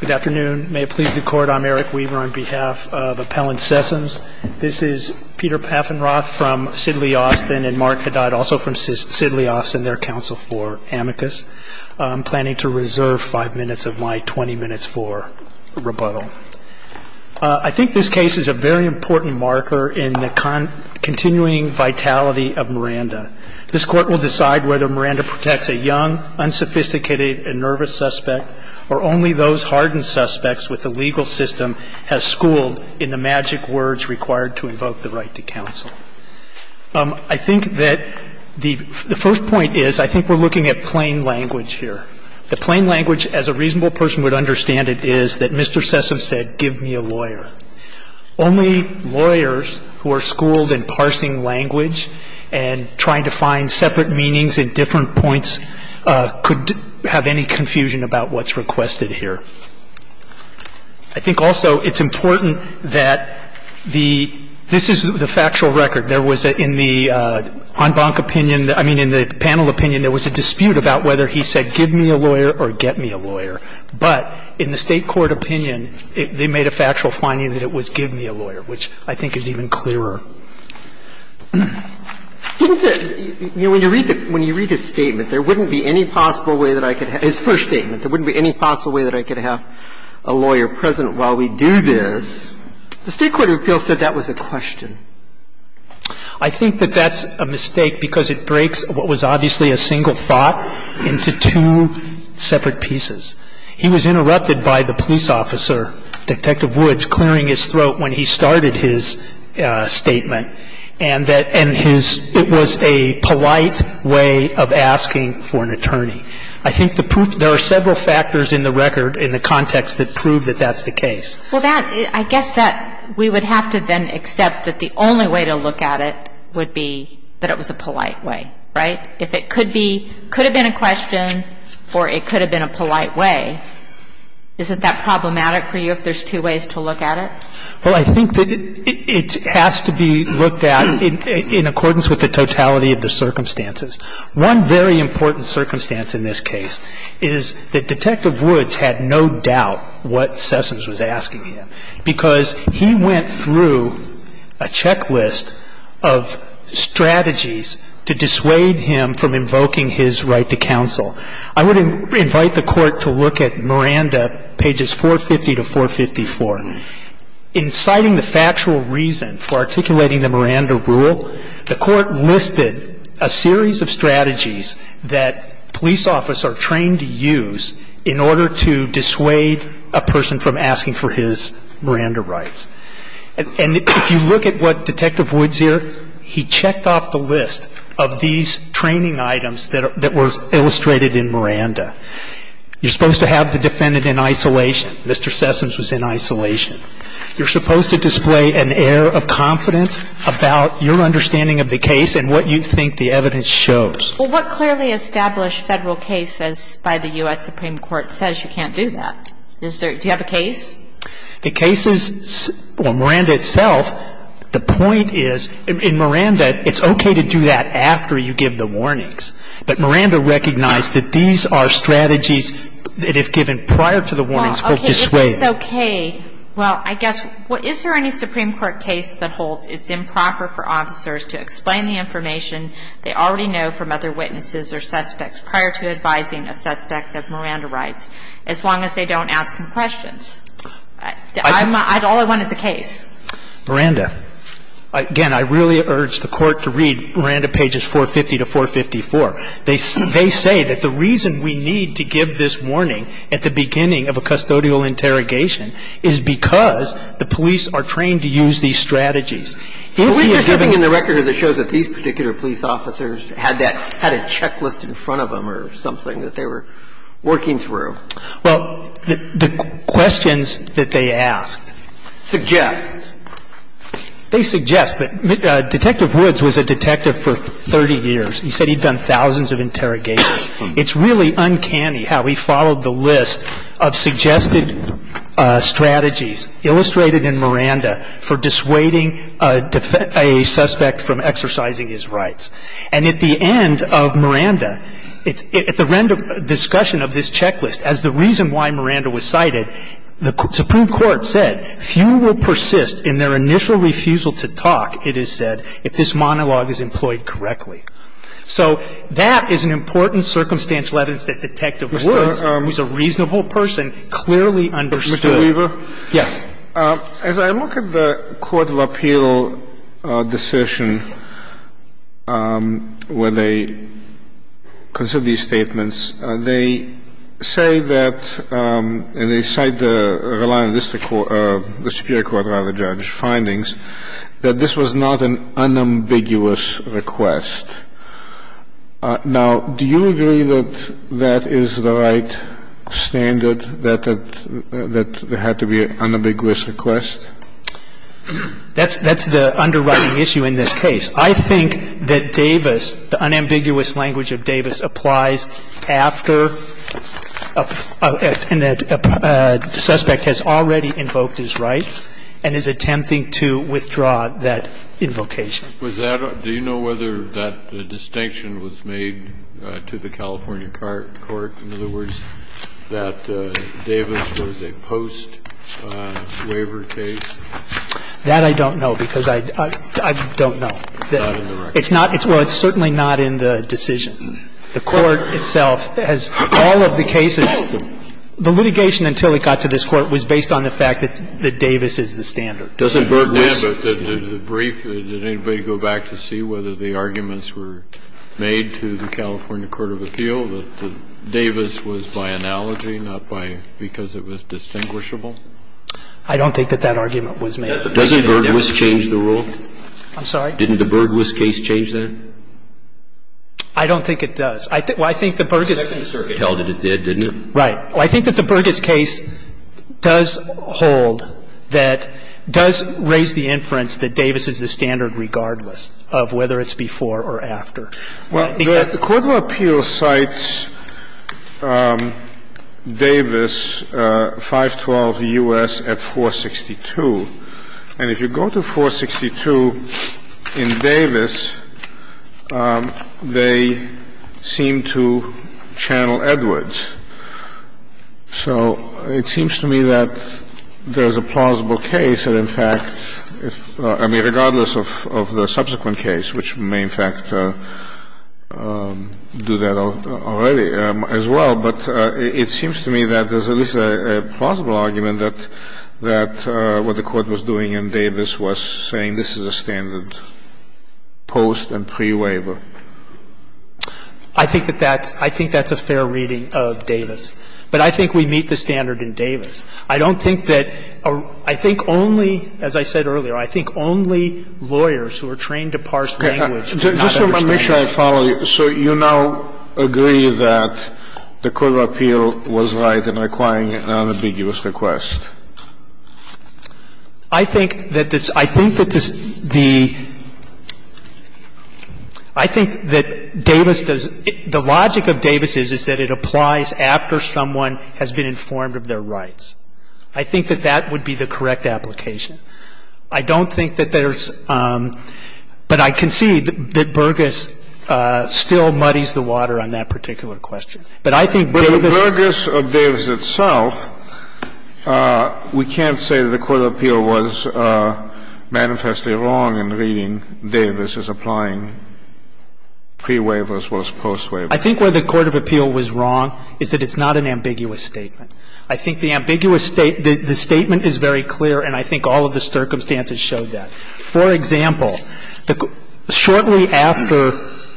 Good afternoon. May it please the Court, I'm Eric Weaver on behalf of Appellant Sessoms. This is Peter Paffenroth from Sidley Austin and Mark Haddad also from Sidley Austin, their counsel for Amicus. I'm planning to reserve five minutes of my 20 minutes for rebuttal. I think this case is a very important marker in the continuing vitality of Miranda. This Court will decide whether Miranda protects a young, unsophisticated and nervous suspect or only those hardened suspects with the legal system has schooled in the magic words required to invoke the right to counsel. I think that the first point is I think we're looking at plain language here. The plain language, as a reasonable person would understand it, is that Mr. Sessoms said, give me a lawyer. Only lawyers who are schooled in parsing language and trying to find separate meanings and different points could have any confusion about what's requested here. I think also it's important that the — this is the factual record. There was in the en banc opinion — I mean, in the panel opinion, there was a dispute about whether he said give me a lawyer or get me a lawyer. But in the State court opinion, they made a factual finding that it was give me a lawyer, which I think is even clearer. Didn't the — you know, when you read the — when you read his statement, there wouldn't be any possible way that I could have — his first statement, there wouldn't be any possible way that I could have a lawyer present while we do this. The State court appeal said that was a question. I think that that's a mistake because it breaks what was obviously a single thought into two separate pieces. He was interrupted by the police officer, Detective Woods, clearing his throat when he started his statement, and that — and his — it was a polite way of asking for an attorney. I think the proof — there are several factors in the record in the context that prove that that's the case. Well, that — I guess that we would have to then accept that the only way to look at it would be that it was a polite way, right? If it could be — could have been a question or it could have been a polite way, isn't that problematic for you if there's two ways to look at it? Well, I think that it has to be looked at in accordance with the totality of the circumstances. One very important circumstance in this case is that Detective Woods had no doubt what Sessoms was asking him because he went through a checklist of strategies to dissuade him from invoking his right to counsel. I would invite the Court to look at Miranda, pages 450 to 454. In citing the factual reason for articulating the Miranda rule, the Court listed a series of strategies that police officers are trained to use in order to dissuade a person from asking for his Miranda rights. And if you look at what Detective Woods here, he checked off the list of these training items that were illustrated in Miranda. You're supposed to have the defendant in isolation. Mr. Sessoms was in isolation. You're supposed to display an air of confidence about your understanding of the case and what you think the evidence shows. Well, what clearly established Federal case as by the U.S. Supreme Court says you can't do that? Is there — do you have a case? The case is — well, Miranda itself, the point is — in Miranda, it's okay to do that after you give the warnings. But Miranda recognized that these are strategies that if given prior to the warnings hold you swayed. Okay. If it's okay, well, I guess — is there any Supreme Court case that holds it's improper for officers to explain the information they already know from other witnesses or suspects prior to advising a suspect of Miranda rights as long as they don't ask him questions? All I want is a case. Miranda. Again, I really urge the Court to read Miranda, pages 450 to 454. They say that the reason we need to give this warning at the beginning of a custodial interrogation is because the police are trained to use these strategies. If the evidence — Well, isn't there something in the record that shows that these particular police officers had that — had a checklist in front of them or something that they were working through? Well, the questions that they asked — Suggest. They suggest. But Detective Woods was a detective for 30 years. He said he'd done thousands of interrogations. It's really uncanny how he followed the list of suggested strategies illustrated in Miranda for dissuading a suspect from exercising his rights. And at the end of Miranda, at the end of discussion of this checklist, as the reason why Miranda was cited, the Supreme Court said, Few will persist in their initial refusal to talk, it is said, if this monologue is employed correctly. So that is an important circumstantial evidence that Detective Woods, who's a reasonable person, clearly understood. Mr. Weaver? Yes. As I look at the Court of Appeal decision where they consider these statements, they say that, and they cite the reliance of the Superior Court, rather, judge's opinion, that this was not an unambiguous request. Now, do you agree that that is the right standard, that it had to be an unambiguous request? That's the underwriting issue in this case. I think that Davis, the unambiguous language of Davis, applies after a suspect has already invoked his rights and is attempting to withdraw that invocation. Do you know whether that distinction was made to the California court? In other words, that Davis was a post-waiver case? That I don't know, because I don't know. It's not in the record. Well, it's certainly not in the decision. The Court itself has all of the cases. The litigation until it got to this Court was based on the fact that Davis is the standard. Doesn't Bergwist change? Did anybody go back to see whether the arguments were made to the California court of appeal, that Davis was by analogy, not by because it was distinguishable? I don't think that that argument was made. Doesn't Bergwist change the rule? I'm sorry? Didn't the Bergwist case change that? I don't think it does. Well, I think the Bergwist case. The Second Circuit held that it did, didn't it? Right. Well, I think that the Bergwist case does hold that, does raise the inference that Davis is the standard regardless of whether it's before or after. Well, the court of appeal cites Davis 512 U.S. at 462. And if you go to 462 in Davis, they seem to channel Edwards. So it seems to me that there's a plausible case that, in fact, I mean, regardless of the subsequent case, which may, in fact, do that already as well. But it seems to me that there's at least a plausible argument that what the court was doing in Davis was saying this is a standard post and pre-waiver. I think that that's – I think that's a fair reading of Davis. But I think we meet the standard in Davis. I don't think that – I think only, as I said earlier, I think only lawyers who are trained to parse language do not understand this. Sotomayor, I want to make sure I follow you. So you now agree that the court of appeal was right in requiring an unambiguous request? I think that this – I think that this – the – I think that Davis does – the logic of Davis is that it applies after someone has been informed of their rights. I think that that would be the correct application. I don't think that there's – but I concede that Burgess still muddies the water on that particular question. But I think Davis – But the Burgess of Davis itself, we can't say that the court of appeal was manifestly wrong in reading Davis as applying pre-waivers versus post-waivers. I think where the court of appeal was wrong is that it's not an ambiguous statement. I think the ambiguous state – the statement is very clear, and I think all of the circumstances showed that. For example, shortly after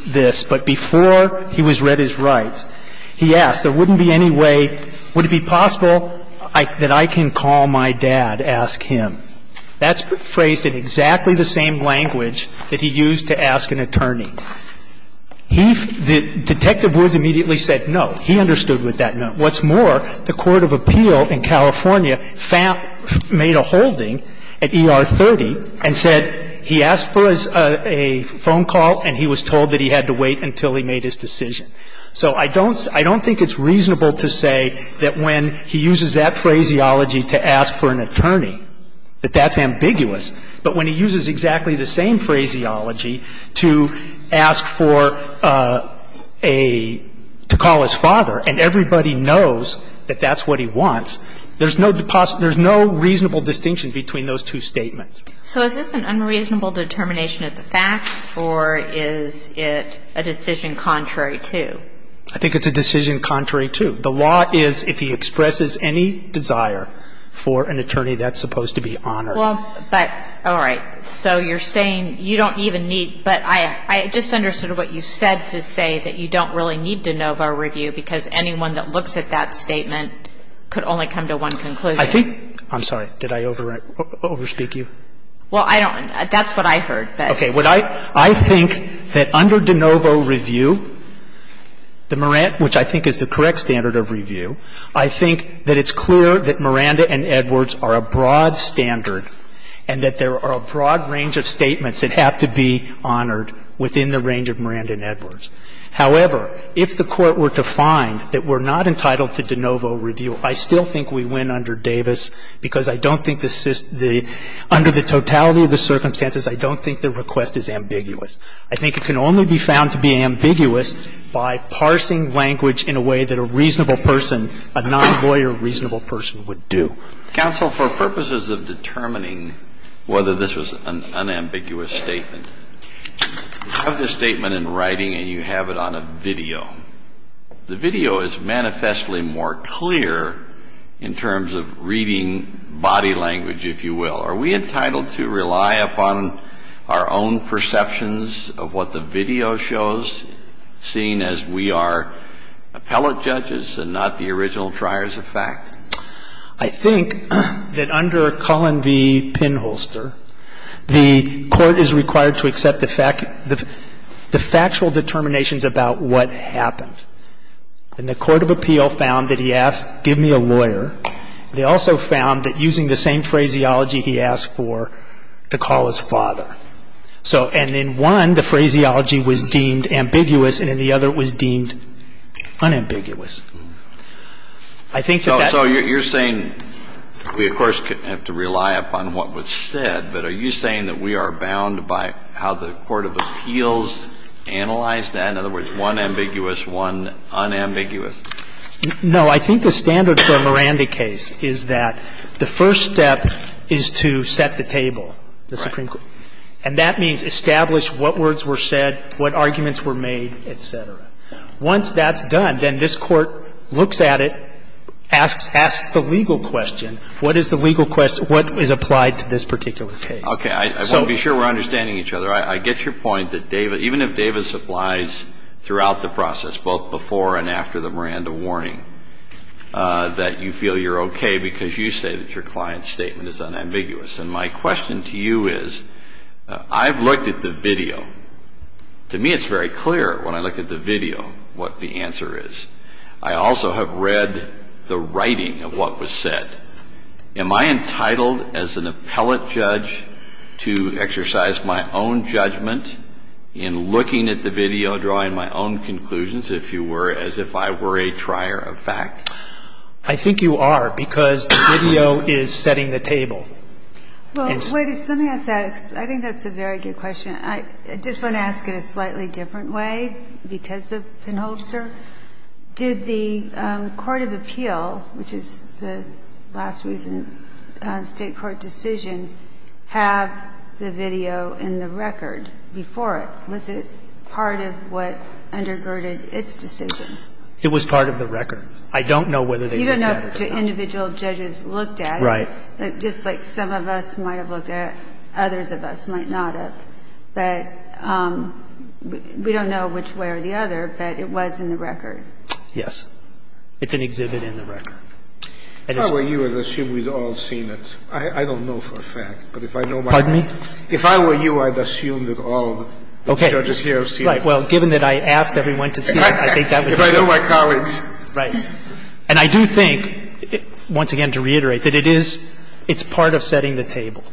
this, but before he was read his rights, he asked, there wouldn't be any way – would it be possible that I can call my dad, ask him. That's phrased in exactly the same language that he used to ask an attorney. He – Detective Woods immediately said no. He understood with that, no. What's more, the court of appeal in California found – made a holding at ER 30 and said he asked for a phone call and he was told that he had to wait until he made his decision. So I don't – I don't think it's reasonable to say that when he uses that phraseology to ask for an attorney, that that's ambiguous. But when he uses exactly the same phraseology to ask for a – to call his father and everybody knows that that's what he wants, there's no – there's no reasonable distinction between those two statements. So is this an unreasonable determination of the facts, or is it a decision contrary to? I think it's a decision contrary to. The law is if he expresses any desire for an attorney, that's supposed to be honored. Well, but – all right. So you're saying you don't even need – but I just understood what you said to say that you don't really need de novo review because anyone that looks at that statement could only come to one conclusion. I think – I'm sorry. Did I over – over speak you? Well, I don't – that's what I heard. Okay. What I – I think that under de novo review, the – which I think is the correct standard of review, I think that it's clear that Miranda and Edwards are a broad standard and that there are a broad range of statements that have to be honored within the range of Miranda and Edwards. However, if the Court were to find that we're not entitled to de novo review, I still think we win under Davis because I don't think the – under the totality of the circumstances, I don't think the request is ambiguous. I think it can only be found to be ambiguous by parsing language in a way that a reasonable person, a non-lawyer reasonable person would do. Counsel, for purposes of determining whether this was an unambiguous statement, you have the statement in writing and you have it on a video. The video is manifestly more clear in terms of reading body language, if you will. Are we entitled to rely upon our own perceptions of what the video shows, seeing as we are appellate judges and not the original triers of fact? I think that under Cullen v. Pinholster, the Court is required to accept the factual determinations about what happened. And the court of appeal found that he asked, give me a lawyer. They also found that using the same phraseology he asked for to call his father. So and in one, the phraseology was deemed ambiguous and in the other it was deemed unambiguous. I think that that's. Kennedy. So you're saying we, of course, have to rely upon what was said, but are you saying that we are bound by how the court of appeals analyzed that? In other words, one ambiguous, one unambiguous? No. I think the standard for a Miranda case is that the first step is to set the table. The Supreme Court. And that means establish what words were said, what arguments were made, et cetera. Once that's done, then this Court looks at it, asks the legal question. What is the legal question? What is applied to this particular case? Okay. I want to be sure we're understanding each other. I get your point that even if Davis applies throughout the process, both before and after the Miranda warning, that you feel you're okay because you say that your client's statement is unambiguous. And my question to you is, I've looked at the video. To me, it's very clear when I look at the video what the answer is. I also have read the writing of what was said. Am I entitled as an appellate judge to exercise my own judgment in looking at the video, drawing my own conclusions, if you were, as if I were a trier of fact? I think you are, because the video is setting the table. Well, let me ask that. I think that's a very good question. I just want to ask it a slightly different way, because of Penholster. Did the court of appeal, which is the last recent State court decision, have the video in the record before it? Was it part of what undergirded its decision? It was part of the record. I don't know whether they looked at it or not. You don't know which individual judges looked at it. Right. I'm not sure. I think it's very clear that just like some of us might have looked at it, others of us might not have, but we don't know which way or the other, but it was in the record. Yes. It's an exhibit in the record. If I were you, I'd assume we'd all seen it. But if I know my colleagues. Pardon me? It's part of setting the table.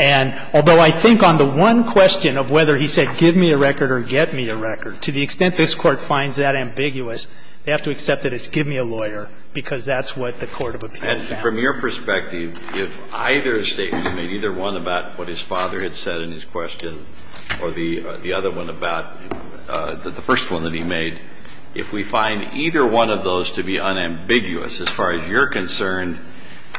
And although I think on the one question of whether he said give me a record or get me a record, to the extent this Court finds that ambiguous, they have to accept that it's give me a lawyer, because that's what the court of appeal found. And from your perspective, if either statement, either one about what his father had said in his question or the other one about the first one that he made, if we find either one of those to be unambiguous as far as you're concerned,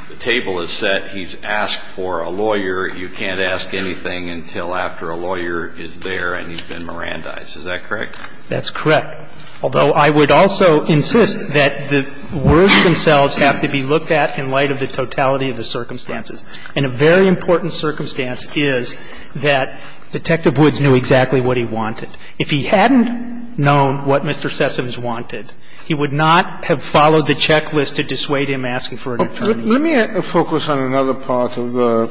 the table is set, he's asked for a lawyer. You can't ask anything until after a lawyer is there and he's been Mirandized. Is that correct? That's correct. Although I would also insist that the words themselves have to be looked at in light of the totality of the circumstances. And a very important circumstance is that Detective Woods knew exactly what he wanted. If he hadn't known what Mr. Sessoms wanted, he would not have followed the checklist to dissuade him asking for an attorney. Let me focus on another part of the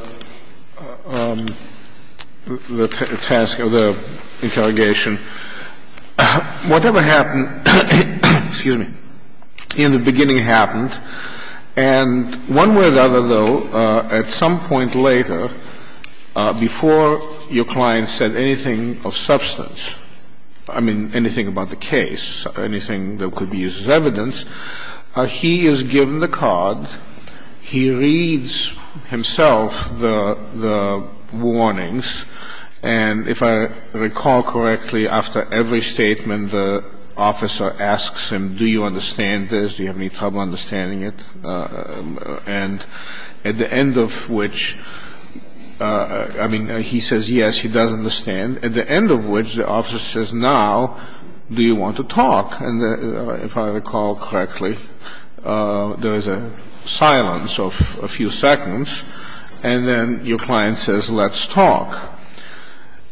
task of the interrogation. Whatever happened in the beginning happened. And one way or the other, though, at some point later, before your client said anything of substance, I mean, anything about the case, anything that could be used as evidence, he is given the card. He reads himself the warnings. And if I recall correctly, after every statement, the officer asks him, do you understand this, do you have any trouble understanding it. And at the end of which, I mean, he says yes, he does understand, at the end of which the officer says, now, do you want to talk? And if I recall correctly, there is a silence of a few seconds, and then your client says, let's talk.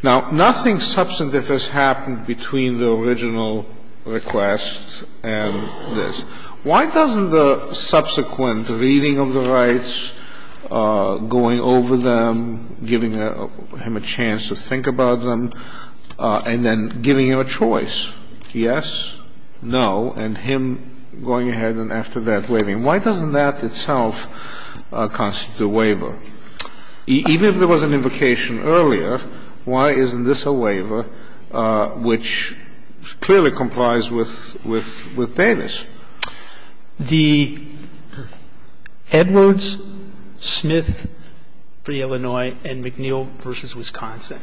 Now, nothing substantive has happened between the original request and this. Why doesn't the subsequent reading of the rights, going over them, giving him a chance to think about them, and then giving him a choice? Why doesn't that itself constitute a waiver? Even if there was an invocation earlier, why isn't this a waiver which clearly complies with Davis? The Edwards, Smith v. Illinois, and McNeil v. Wisconsin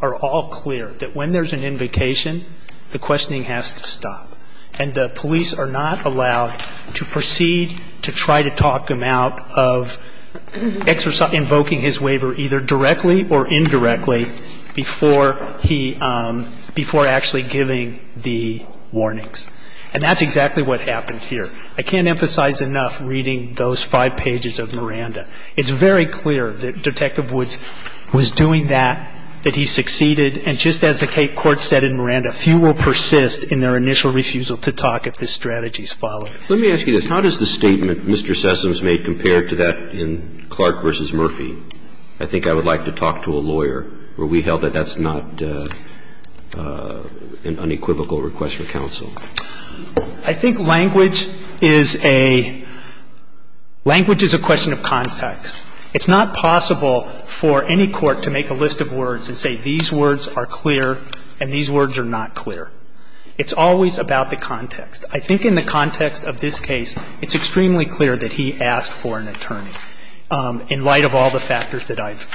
are all clear that when there's an invocation, the questioning has to stop, and the police are not allowed to proceed to try to talk him out of invoking his waiver either directly or indirectly before actually giving the warnings. And that's exactly what happened here. I can't emphasize enough reading those five pages of Miranda. It's very clear that Detective Woods was doing that, that he succeeded. And just as the Cape Court said in Miranda, few will persist in their initial refusal to talk if this strategy is followed. Let me ask you this. How does the statement Mr. Sessoms made compare to that in Clark v. Murphy? I think I would like to talk to a lawyer where we held that that's not an unequivocal request for counsel. I think language is a question of context. It's not possible for any court to make a list of words and say these words are clear and these words are not clear. It's always about the context. I think in the context of this case, it's extremely clear that he asked for an attorney in light of all the factors that I've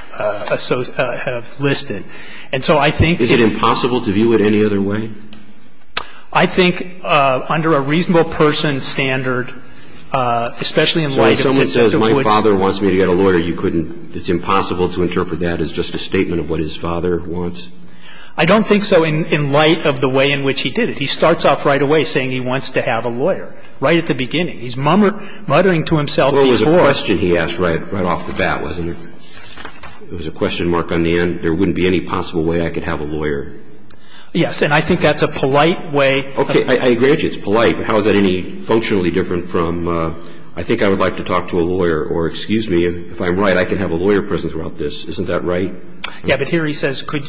listed. And so I think that he asked for an attorney. Is it impossible to view it any other way? I think under a reasonable person standard, especially in light of Detective Woods' ---- So if someone says my father wants me to get a lawyer, you couldn't ---- it's impossible to interpret that as just a statement of what his father wants? I don't think so in light of the way in which he did it. He starts off right away saying he wants to have a lawyer, right at the beginning. He's muttering to himself before ---- Well, it was a question he asked right off the bat, wasn't it? It was a question mark on the end. There wouldn't be any possible way I could have a lawyer. Yes. And I think that's a polite way of ---- Okay. I agree with you. It's polite. How is that any functionally different from I think I would like to talk to a lawyer or excuse me, if I'm right, I can have a lawyer present throughout this. Isn't that right? Yeah. But here he says could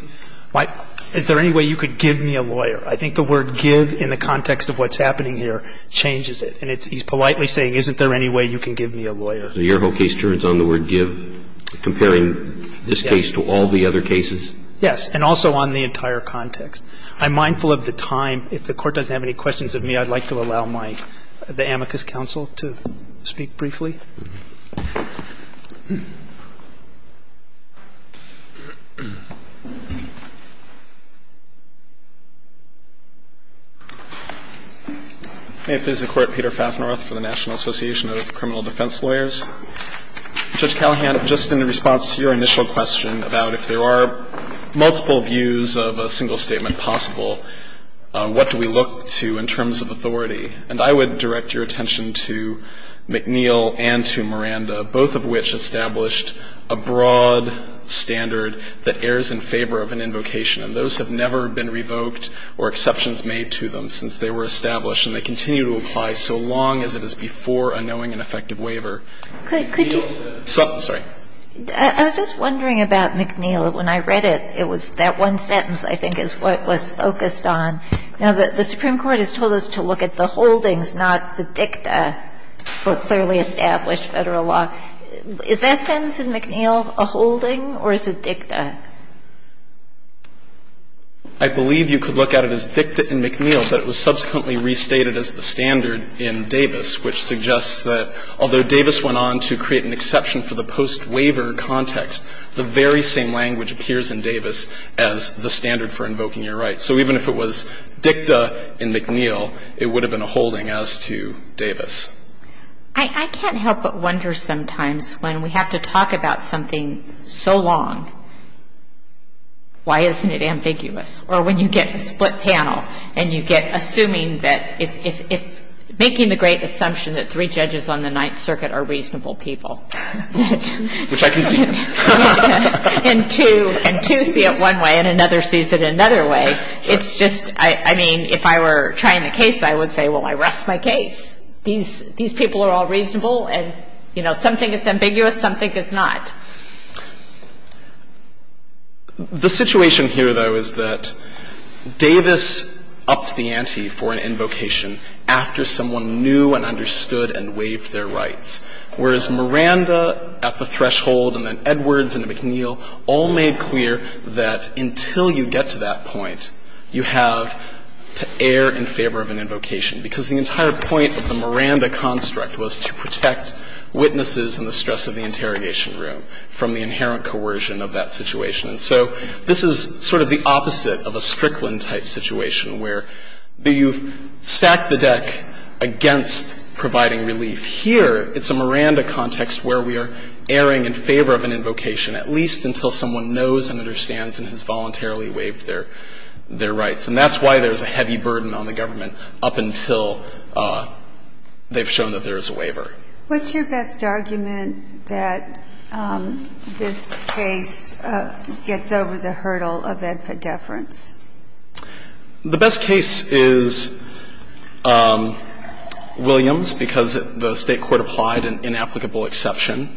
my ---- is there any way you could give me a lawyer? I think the word give in the context of what's happening here changes it. And he's politely saying isn't there any way you can give me a lawyer? So your whole case turns on the word give, comparing this case to all the other cases? Yes. And also on the entire context. I'm mindful of the time. If the Court doesn't have any questions of me, I'd like to allow my ---- the amicus counsel to speak briefly. May it please the Court. Peter Fafneroth for the National Association of Criminal Defense Lawyers. Judge Callahan, just in response to your initial question about if there are multiple views of a single statement possible, what do we look to in terms of authority? And I would direct your attention to McNeil and to Miranda, both of which established a broad standard that errs in favor of an invocation. And those have never been revoked or exceptions made to them since they were established. They continue to apply so long as it is before a knowing and effective waiver. McNeil says ---- I'm sorry. I was just wondering about McNeil. When I read it, it was that one sentence I think is what was focused on. Now, the Supreme Court has told us to look at the holdings, not the dicta for clearly established Federal law. Is that sentence in McNeil a holding or is it dicta? I believe you could look at it as dicta in McNeil, but it was subsequently restated as the standard in Davis, which suggests that although Davis went on to create an exception for the post-waiver context, the very same language appears in Davis as the standard for invoking your rights. So even if it was dicta in McNeil, it would have been a holding as to Davis. I can't help but wonder sometimes when we have to talk about something so long, why isn't it ambiguous? Or when you get a split panel and you get assuming that if ---- making the great assumption that three judges on the Ninth Circuit are reasonable people. Which I can see. And two see it one way and another sees it another way. It's just ---- I mean, if I were trying a case, I would say, well, I rest my case. These people are all reasonable and, you know, some think it's ambiguous, some think it's not. The situation here, though, is that Davis upped the ante for an invocation after someone knew and understood and waived their rights, whereas Miranda at the threshold and then Edwards and McNeil all made clear that until you get to that point, you have to err in favor of an invocation, because the entire point of the Miranda construct was to protect witnesses and the stress of the interrogation room from the inherent coercion of that situation. And so this is sort of the opposite of a Strickland-type situation where you've stacked the deck against providing relief. Here, it's a Miranda context where we are erring in favor of an invocation at least until someone knows and understands and has voluntarily waived their rights, and that's why there's a heavy burden on the government up until they've shown that there is a waiver. What's your best argument that this case gets over the hurdle of AEDPA deference? The best case is Williams, because the State court applied an inapplicable exception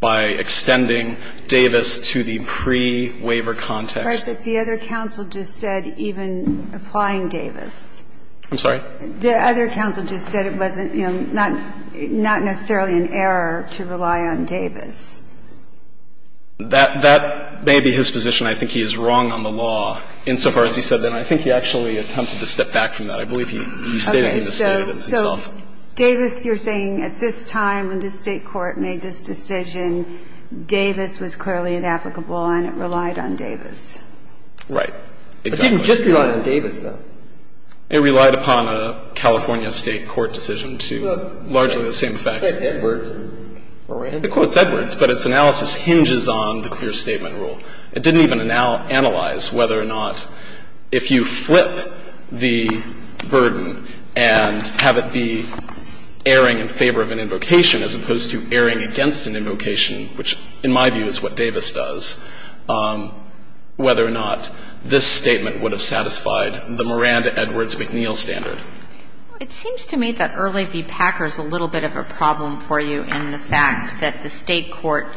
by extending Davis to the pre-waiver context. But the other counsel just said even applying Davis. I'm sorry? The other counsel just said it wasn't, you know, not necessarily an error to rely on Davis. That may be his position. I think he is wrong on the law insofar as he said that. And I think he actually attempted to step back from that. I believe he stated himself. Okay. So Davis, you're saying at this time when the State court made this decision, Davis was clearly inapplicable and it relied on Davis? Right. Exactly. It didn't just rely on Davis, though. It relied upon a California State court decision to largely the same effect. It said Edwards. It quotes Edwards, but its analysis hinges on the clear statement rule. It didn't even analyze whether or not if you flip the burden and have it be erring in favor of an invocation as opposed to erring against an invocation, which in my view is what Davis does, whether or not this statement would have satisfied the Miranda-Edwards-McNeil standard. It seems to me that Early v. Packer is a little bit of a problem for you in the fact that the State court,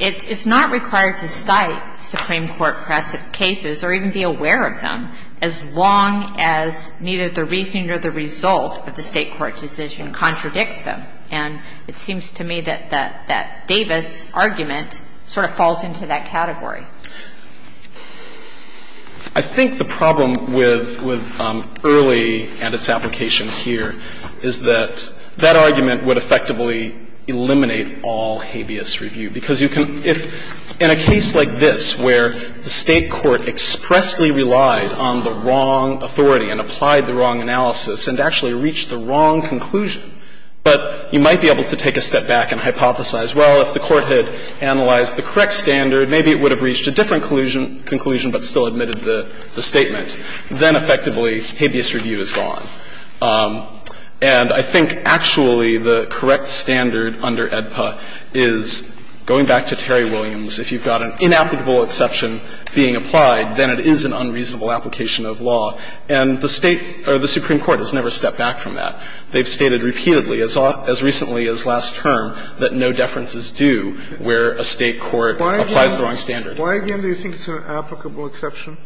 it's not required to cite Supreme Court cases or even be aware of them as long as neither the reasoning or the result of the State court decision contradicts them. And it seems to me that that Davis argument sort of falls into that category. I think the problem with Early and its application here is that that argument would effectively eliminate all habeas review, because you can, if in a case like this where the State court expressly relied on the wrong authority and applied the wrong analysis and actually reached the wrong conclusion, but you might be able to take a step back and hypothesize, well, if the court had analyzed the correct standard, maybe it would have reached a different conclusion but still admitted the statement, then effectively habeas review is gone. And I think actually the correct standard under AEDPA is, going back to Terry Williams, if you've got an inapplicable exception being applied, then it is an unreasonable application of law. And the State or the Supreme Court has never stepped back from that. They've stated repeatedly, as recently as last term, that no deference is due where a State court applies the wrong standard. Why, again, do you think it's an applicable exception?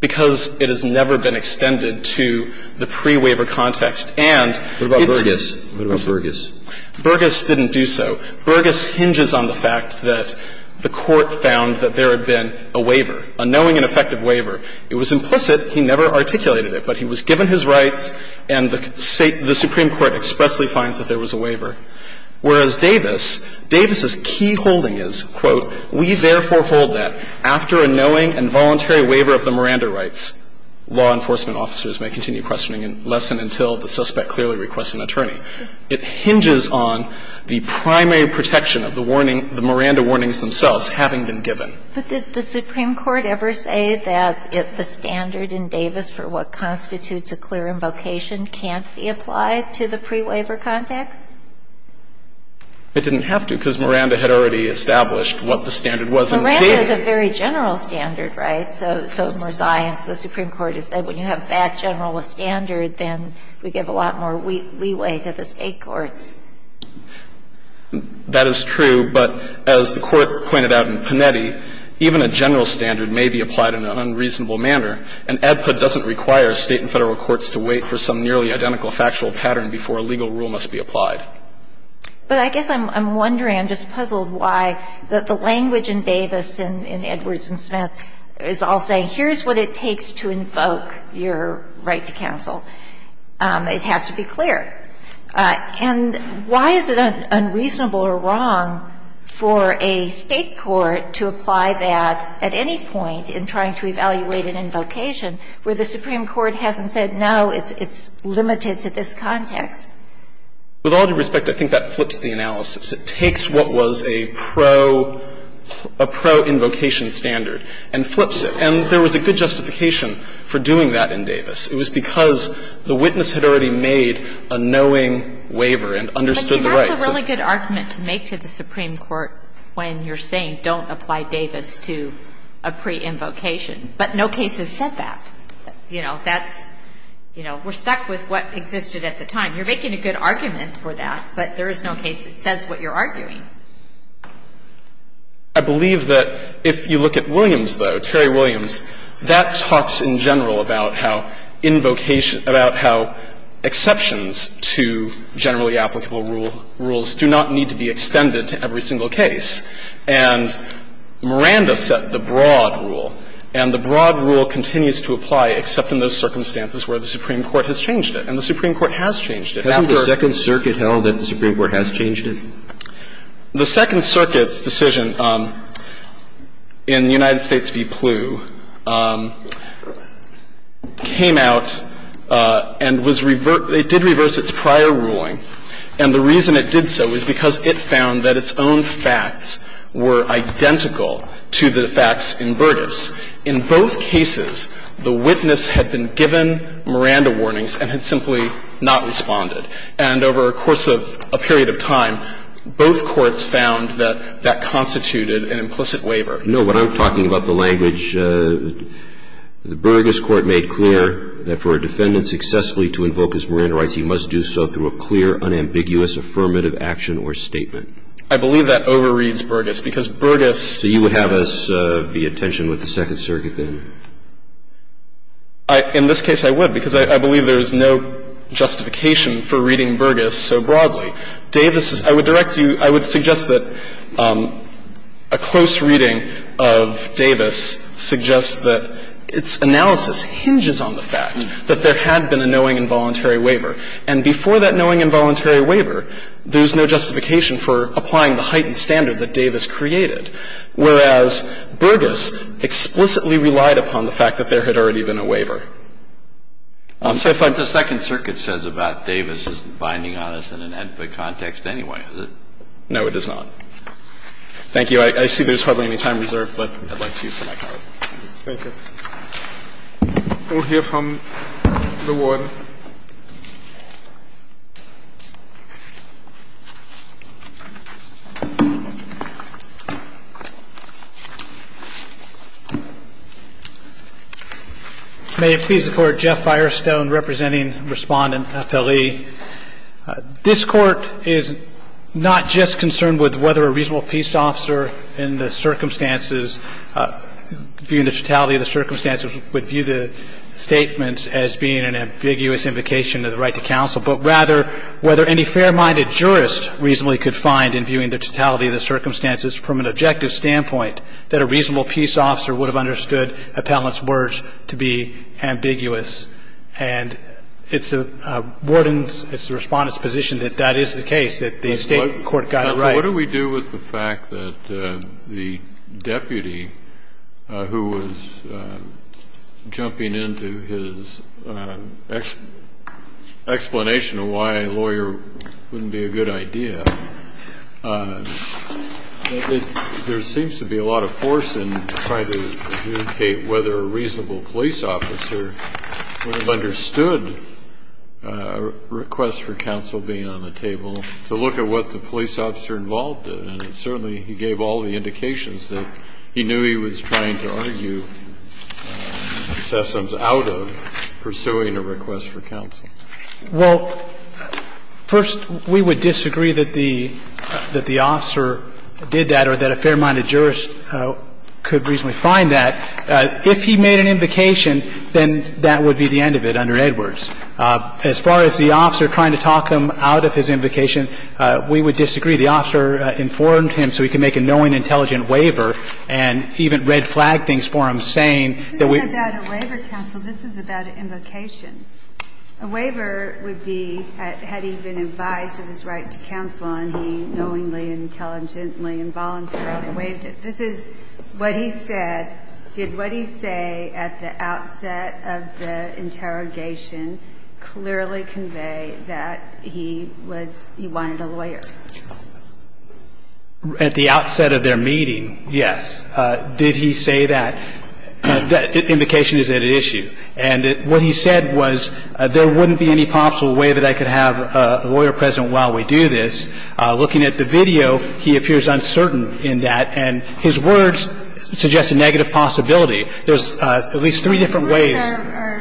Because it has never been extended to the pre-waiver context, and it's not. What about Burgess? Burgess didn't do so. Burgess hinges on the fact that the Court found that there had been a waiver, a knowing and effective waiver. It was implicit. He never articulated it, but he was given his rights and the Supreme Court expressly finds that there was a waiver. Whereas Davis, Davis's key holding is, quote, we therefore hold that after a knowing and voluntary waiver of the Miranda rights, law enforcement officers may continue questioning unless and until the suspect clearly requests an attorney. It hinges on the primary protection of the warning, the Miranda warnings themselves, having been given. But did the Supreme Court ever say that the standard in Davis for what constitutes a clear invocation can't be applied to the pre-waiver context? It didn't have to because Miranda had already established what the standard was in Davis. Miranda is a very general standard, right? So Merzion, the Supreme Court, has said when you have that general a standard, then we give a lot more leeway to the State courts. That is true, but as the Court pointed out in Panetti, even a general standard may be applied in an unreasonable manner, and ADPA doesn't require State and Federal But I guess I'm wondering, I'm just puzzled why, that the language in Davis and in Edwards and Smith is all saying, here's what it takes to invoke your right to counsel. It has to be clear. And why is it unreasonable or wrong for a State court to apply that at any point in trying to evaluate an invocation where the Supreme Court hasn't said, no, it's limited to this context? With all due respect, I think that flips the analysis. It takes what was a pro-invocation standard and flips it. And there was a good justification for doing that in Davis. It was because the witness had already made a knowing waiver and understood the rights. But that's a really good argument to make to the Supreme Court when you're saying don't apply Davis to a pre-invocation, but no case has said that. You know, that's, you know, we're stuck with what existed at the time. You're making a good argument for that, but there is no case that says what you're arguing. I believe that if you look at Williams, though, Terry Williams, that talks in general about how invocation – about how exceptions to generally applicable rules do not need to be extended to every single case. And Miranda set the broad rule, and the broad rule continues to apply except in those cases where the Supreme Court has changed it. Hasn't the Second Circuit held that the Supreme Court has changed it? The Second Circuit's decision in the United States v. Plew came out and was – it did reverse its prior ruling, and the reason it did so was because it found that its own facts were identical to the facts in Burtis. In both cases, the witness had been given Miranda warnings and had simply not responded. And over a course of a period of time, both courts found that that constituted an implicit waiver. No, what I'm talking about, the language, the Burgess court made clear that for a defendant successfully to invoke his Miranda rights, he must do so through a clear, unambiguous, affirmative action or statement. I believe that overreads Burgess, because Burgess – So you would have us be at tension with the Second Circuit, then? In this case, I would, because I believe there is no justification for reading Burgess so broadly. Davis's – I would direct you – I would suggest that a close reading of Davis suggests that its analysis hinges on the fact that there had been a knowing, involuntary waiver. And before that knowing, involuntary waiver, there's no justification for applying the heightened standard that Davis created. Whereas Burgess explicitly relied upon the fact that there had already been a waiver. So if I – But the Second Circuit says about Davis isn't binding on us in an ad hoc context anyway, is it? No, it is not. Thank you. I see there's hardly any time reserved, but I'd like to use the microphone. Thank you. We'll hear from the Warren. May it please the Court, Jeff Firestone, representing Respondent FLE. This Court is not just concerned with whether a reasonable peace officer in the circumstances – viewing the totality of the circumstances would view the statements as being an ambiguous invocation of the right to counsel, but rather whether any fair-minded jurist reasonably could find, in viewing the totality of the circumstances from an objective standpoint, that a reasonable peace officer would have understood appellant's words to be ambiguous. And it's the Warden's – it's the Respondent's position that that is the case, that the State court got it right. So what do we do with the fact that the deputy who was jumping into his explanation of why a lawyer wouldn't be a good idea, there seems to be a lot of force in trying to adjudicate whether a reasonable police officer would have understood a request for And there's a lot of force in trying to get a reasonable police officer involved in it. And certainly, he gave all the indications that he knew he was trying to argue sessions out of pursuing a request for counsel. Well, first, we would disagree that the officer did that or that a fair-minded jurist could reasonably find that. If he made an invocation, then that would be the end of it under Edwards. As far as the officer trying to talk him out of his invocation, we would disagree. The officer informed him so he could make a knowing, intelligent waiver, and he even red-flagged things for him, saying that we This isn't about a waiver, counsel. This is about an invocation. A waiver would be, had he been advised of his right to counsel on, he knowingly and intelligently and voluntarily waived it. This is what he said. Did what he say at the outset of the interrogation clearly convey that he was he wanted a lawyer? At the outset of their meeting, yes. Did he say that? That invocation is at issue. And what he said was, there wouldn't be any possible way that I could have a lawyer present while we do this. And that's what he said at the outset of the interrogation. while we do this. Looking at the video, he appears uncertain in that, and his words suggest a negative possibility. There's at least three different ways. I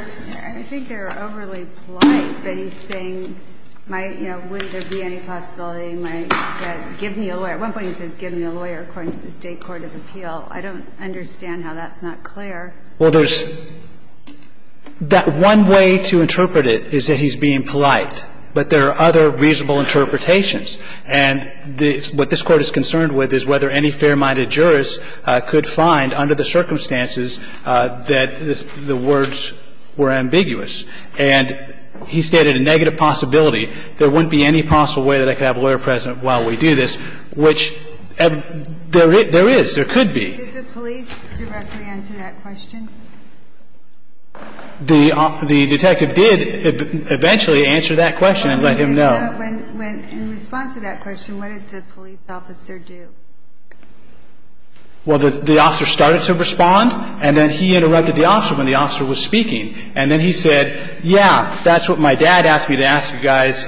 think they're overly polite, but he's saying, might, you know, would there be any possibility he might get, give me a lawyer. At one point he says, give me a lawyer, according to the State court of appeal. I don't understand how that's not clear. Well, there's one way to interpret it is that he's being polite, but there are other reasonable interpretations. And what this Court is concerned with is whether any fair-minded jurist could find, under the circumstances, that the words were ambiguous. And he stated a negative possibility. There wouldn't be any possible way that I could have a lawyer present while we do this, which there is, there could be. Did the police directly answer that question? The detective did eventually answer that question and let him know. In response to that question, what did the police officer do? Well, the officer started to respond, and then he interrupted the officer when the officer was speaking. And then he said, yeah, that's what my dad asked me to ask you guys,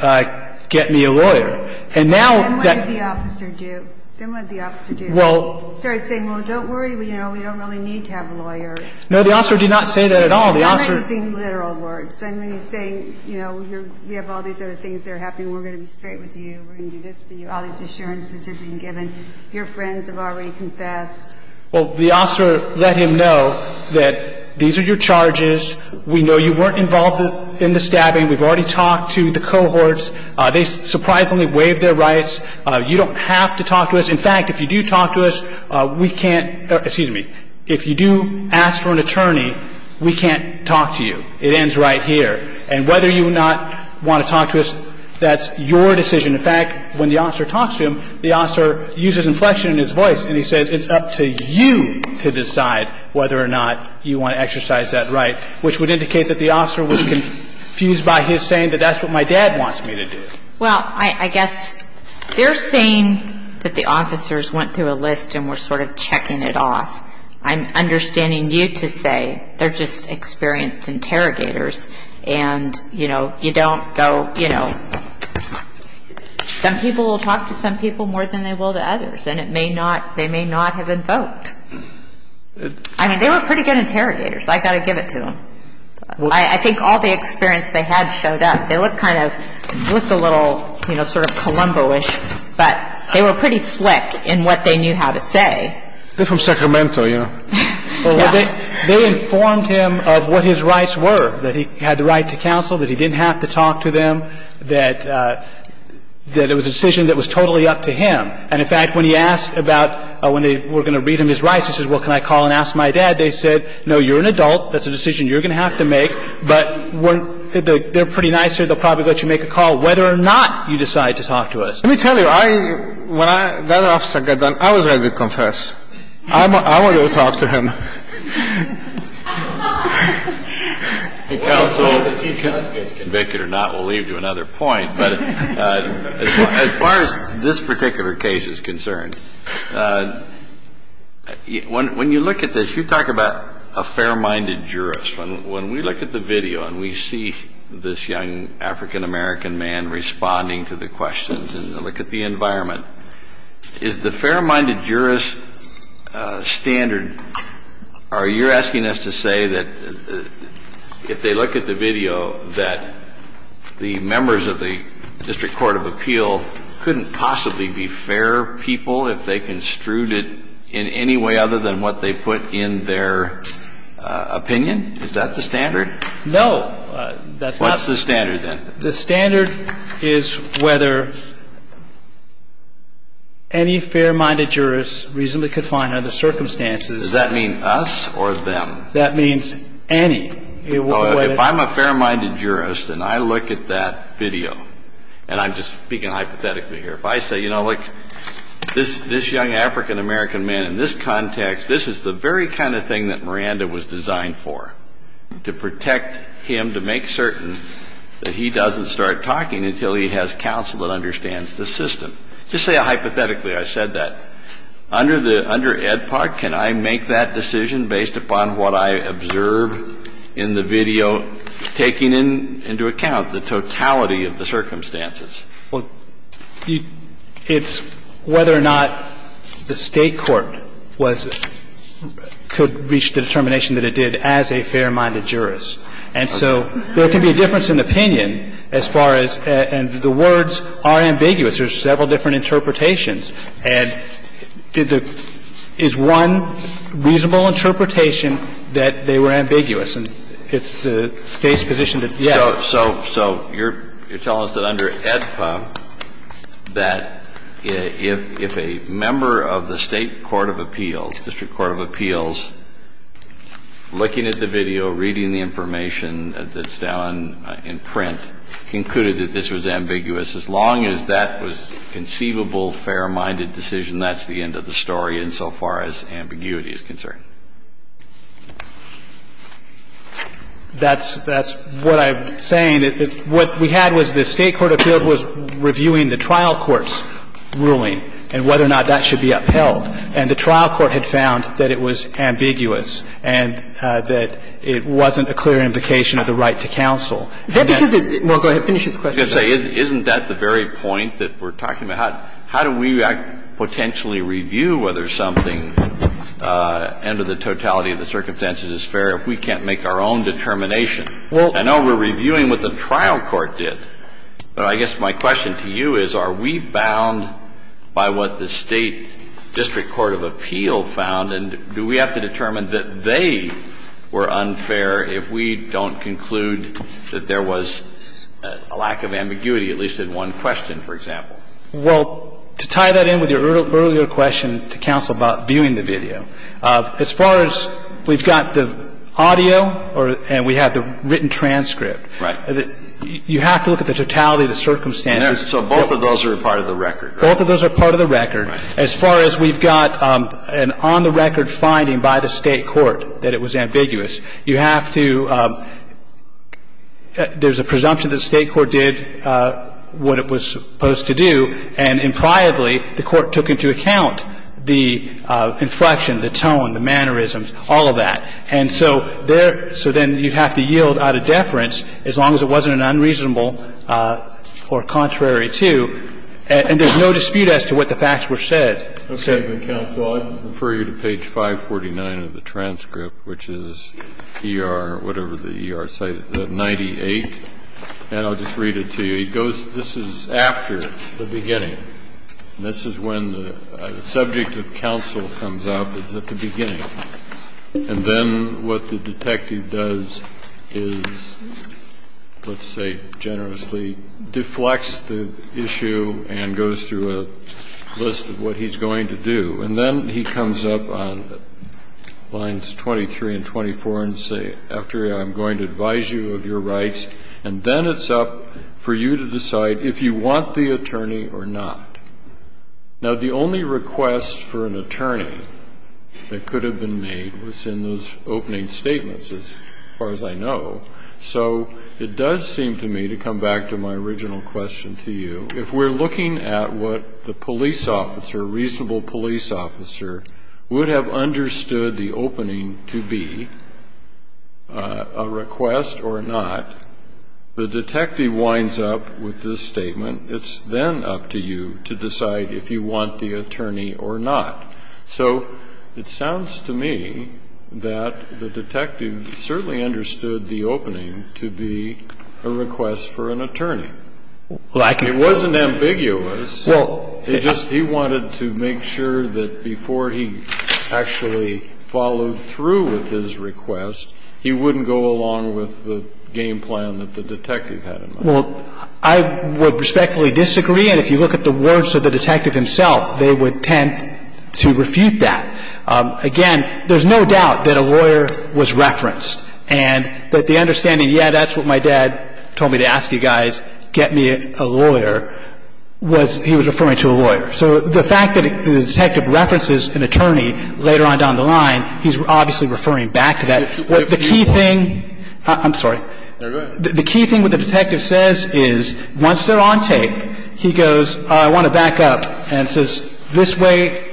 get me a lawyer. And now that... Then what did the officer do? Then what did the officer do? Well... He started saying, well, don't worry, you know, we don't really need to have a lawyer. No, the officer did not say that at all. I'm not using literal words. When he's saying, you know, we have all these other things that are happening, we're going to be straight with you, we're going to do this for you, all these assurances have been given, your friends have already confessed. Well, the officer let him know that these are your charges, we know you weren't involved in the stabbing, we've already talked to the cohorts, they surprisingly waived their rights, you don't have to talk to us. In fact, if you do talk to us, we can't, excuse me, if you do ask for an attorney, we can't talk to you. It ends right here. And whether you not want to talk to us, that's your decision. In fact, when the officer talks to him, the officer uses inflection in his voice and he says, it's up to you to decide whether or not you want to exercise that right. Which would indicate that the officer was confused by his saying that that's what my dad wants me to do. Well, I guess they're saying that the officers went through a list and were sort of checking it off. I'm understanding you to say they're just experienced interrogators and, you know, you don't go, you know, some people will talk to some people more than they will to others and it may not, they may not have invoked. I mean, they were pretty good interrogators, I've got to give it to them. I think all the experience they had showed up. They looked kind of, looked a little, you know, sort of Columbo-ish, but they were pretty slick in what they knew how to say. They're from Sacramento, you know. They informed him of what his rights were, that he had the right to counsel, that he didn't have to talk to them, that it was a decision that was totally up to him. And in fact, when he asked about when they were going to read him his rights, he says, well, can I call and ask my dad? They said, no, you're an adult. That's a decision you're going to have to make, but they're pretty nice here. They'll probably let you make a call whether or not you decide to talk to us. Let me tell you, I, when that officer got done, I was ready to confess. I wanted to talk to him. The counsel, if he gets convicted or not, we'll leave it to another point. But as far as this particular case is concerned, when you look at this, you talk about a fair-minded jurist. When we look at the video and we see this young African-American man responding to the questions and look at the environment, is the fair-minded jurist standard or you're asking us to say that if they look at the video that the members of the District Court of Appeal couldn't possibly be fair people if they construed it in any way other than what they put in their opinion? Is that the standard? No. What's the standard then? The standard is whether any fair-minded jurist reasonably confined under the circumstances. Does that mean us or them? That means any. If I'm a fair-minded jurist and I look at that video, and I'm just speaking hypothetically here, if I say, you know, look, this young African-American man in this context, this is the very kind of thing that Miranda was designed for, to protect him, to make certain that he doesn't start talking until he has counsel that understands the system. Just say hypothetically I said that. Under the Ed Park, can I make that decision based upon what I observed in the video, taking into account the totality of the circumstances? Well, it's whether or not the State court was – could reach the determination that it did as a fair-minded jurist. And so there can be a difference in opinion as far as – and the words are ambiguous. There's several different interpretations. And is one reasonable interpretation that they were ambiguous? And it's the State's position that, yes. So you're telling us that under Ed Park, that if a member of the State court of appeals, district court of appeals, looking at the video, reading the information that's down in print, concluded that this was ambiguous, as long as that was conceivable, fair-minded decision, that's the end of the story insofar as ambiguity is concerned? That's – that's what I'm saying. What we had was the State court of appeals was reviewing the trial court's ruling and whether or not that should be upheld. And the trial court had found that it was ambiguous and that it wasn't a clear implication of the right to counsel. That's because it's – well, go ahead, finish this question. I was going to say, isn't that the very point that we're talking about? How do we potentially review whether something under the totality of the circumstances is fair if we can't make our own determination? I know we're reviewing what the trial court did, but I guess my question to you is, are we bound by what the State district court of appeal found, and do we have to determine that they were unfair if we don't conclude that there was a lack of ambiguity, at least in one question, for example? Well, to tie that in with your earlier question to counsel about viewing the video, as far as we've got the audio or – and we have the written transcript. Right. You have to look at the totality of the circumstances. So both of those are a part of the record, right? Both of those are part of the record. Right. As far as we've got an on-the-record finding by the State court that it was ambiguous, you have to – there's a presumption that the State court did what it was supposed to do, and impliedly, the court took into account the inflection, the tone, the mannerisms, all of that. And so there – so then you'd have to yield out of deference as long as it wasn't an unreasonable or contrary to, and there's no dispute as to what the facts were said. Okay. Counsel, I'll just refer you to page 549 of the transcript, which is ER, whatever the ER cited, 98, and I'll just read it to you. It goes – this is after the beginning. This is when the subject of counsel comes up, is at the beginning. And then what the detective does is, let's say, generously deflects the issue and goes through a list of what he's going to do. And then he comes up on lines 23 and 24 and say, after I'm going to advise you of your rights, and then it's up for you to decide if you want the attorney or not. Now, the only request for an attorney that could have been made was in those opening statements, as far as I know. So it does seem to me, to come back to my original question to you, if we're looking at what the police officer, reasonable police officer, would have understood the opening to be a request or not, the detective winds up with this statement, it's then up to you to decide if you want the attorney or not. So it sounds to me that the detective certainly understood the opening to be a request for an attorney. It wasn't ambiguous, it just – he wanted to make sure that before he actually followed through with his request, he wouldn't go along with the game plan that the detective had in mind. Well, I would respectfully disagree. And if you look at the words of the detective himself, they would tend to refute that. Again, there's no doubt that a lawyer was referenced and that the understanding, yeah, that's what my dad told me to ask you guys, get me a lawyer, was he was referring to a lawyer. So the fact that the detective references an attorney later on down the line, he's obviously referring back to that. The key thing – I'm sorry. The key thing what the detective says is, once they're on tape, he goes, I want to back up, and says, this way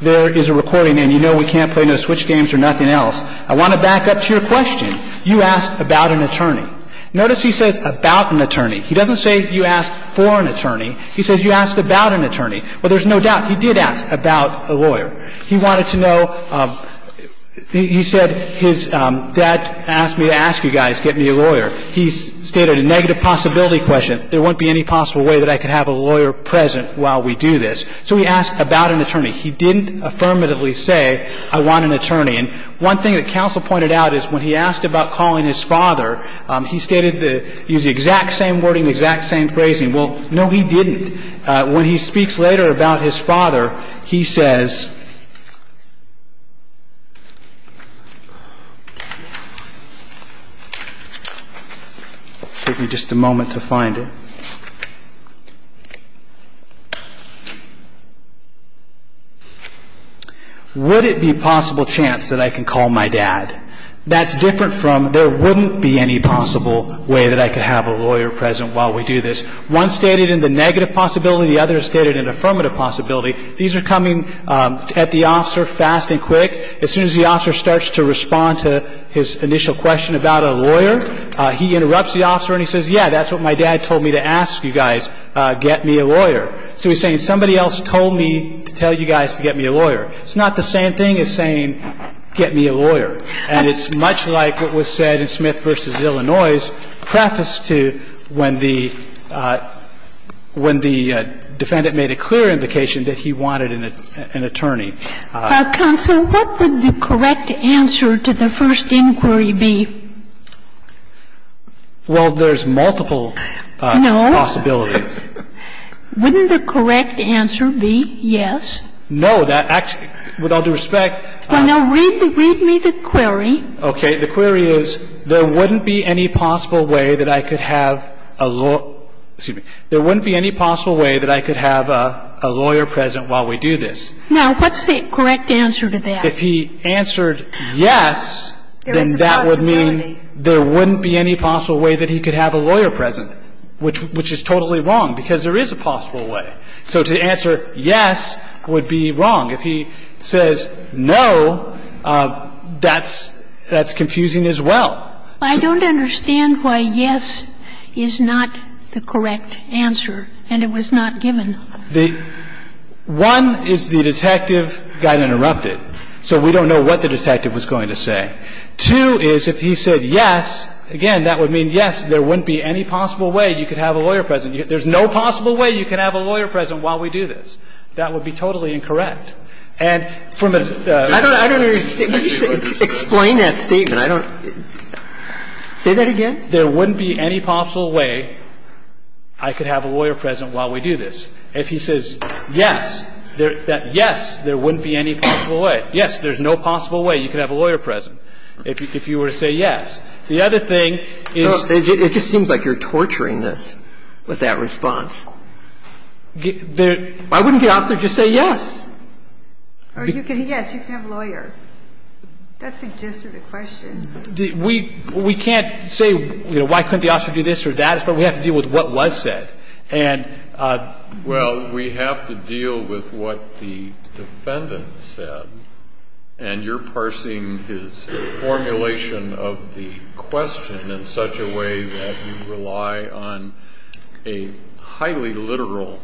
there is a recording and you know we can't play no switch games or nothing else. I want to back up to your question. You asked about an attorney. Notice he says about an attorney. He doesn't say you asked for an attorney. He says you asked about an attorney. Well, there's no doubt he did ask about a lawyer. He wanted to know – he said his dad asked me to ask you guys, get me a lawyer. He stated a negative possibility question. There won't be any possible way that I could have a lawyer present while we do this. So he asked about an attorney. He didn't affirmatively say I want an attorney. And one thing that counsel pointed out is when he asked about calling his father, he stated the exact same wording, the exact same phrasing. Well, no, he didn't. When he speaks later about his father, he says – give me just a moment to find it. Would it be a possible chance that I can call my dad? That's different from there wouldn't be any possible way that I could have a lawyer present while we do this. One stated in the negative possibility, the other stated in the affirmative possibility. These are coming at the officer fast and quick. As soon as the officer starts to respond to his initial question about a lawyer, he interrupts the officer and he says, yeah, that's what my dad told me to ask you guys, get me a lawyer. So he's saying somebody else told me to tell you guys to get me a lawyer. It's not the same thing as saying get me a lawyer. And it's much like what was said in Smith v. Illinois's preface to when the defendant made a clear indication that he wanted an attorney. Counsel, what would the correct answer to the first inquiry be? Well, there's multiple possibilities. No. Wouldn't the correct answer be yes? No. That actually, with all due respect. Well, no. Read me the query. Okay. The query is there wouldn't be any possible way that I could have a lawyer. Excuse me. There wouldn't be any possible way that I could have a lawyer present while we do this. Now, what's the correct answer to that? If he answered yes, then that would mean there wouldn't be any possible way that he could have a lawyer present, which is totally wrong, because there is a possible way. So to answer yes would be wrong. If he says no, that's confusing as well. I don't understand why yes is not the correct answer, and it was not given. The one is the detective got interrupted, so we don't know what the detective was going to say. Two is if he said yes, again, that would mean yes, there wouldn't be any possible way you could have a lawyer present. There's no possible way you could have a lawyer present while we do this. That would be totally incorrect. And from a – I don't understand. Explain that statement. I don't – say that again. There wouldn't be any possible way I could have a lawyer present while we do this. If he says yes, yes, there wouldn't be any possible way. Yes, there's no possible way you could have a lawyer present if you were to say yes. The other thing is – It just seems like you're torturing us with that response. I wouldn't get off there and just say yes. Or you could – yes, you could have a lawyer. That suggested a question. We can't say, you know, why couldn't the officer do this or that. We have to deal with what was said. And – Well, we have to deal with what the defendant said, and you're parsing his formulation of the question in such a way that you rely on a highly literal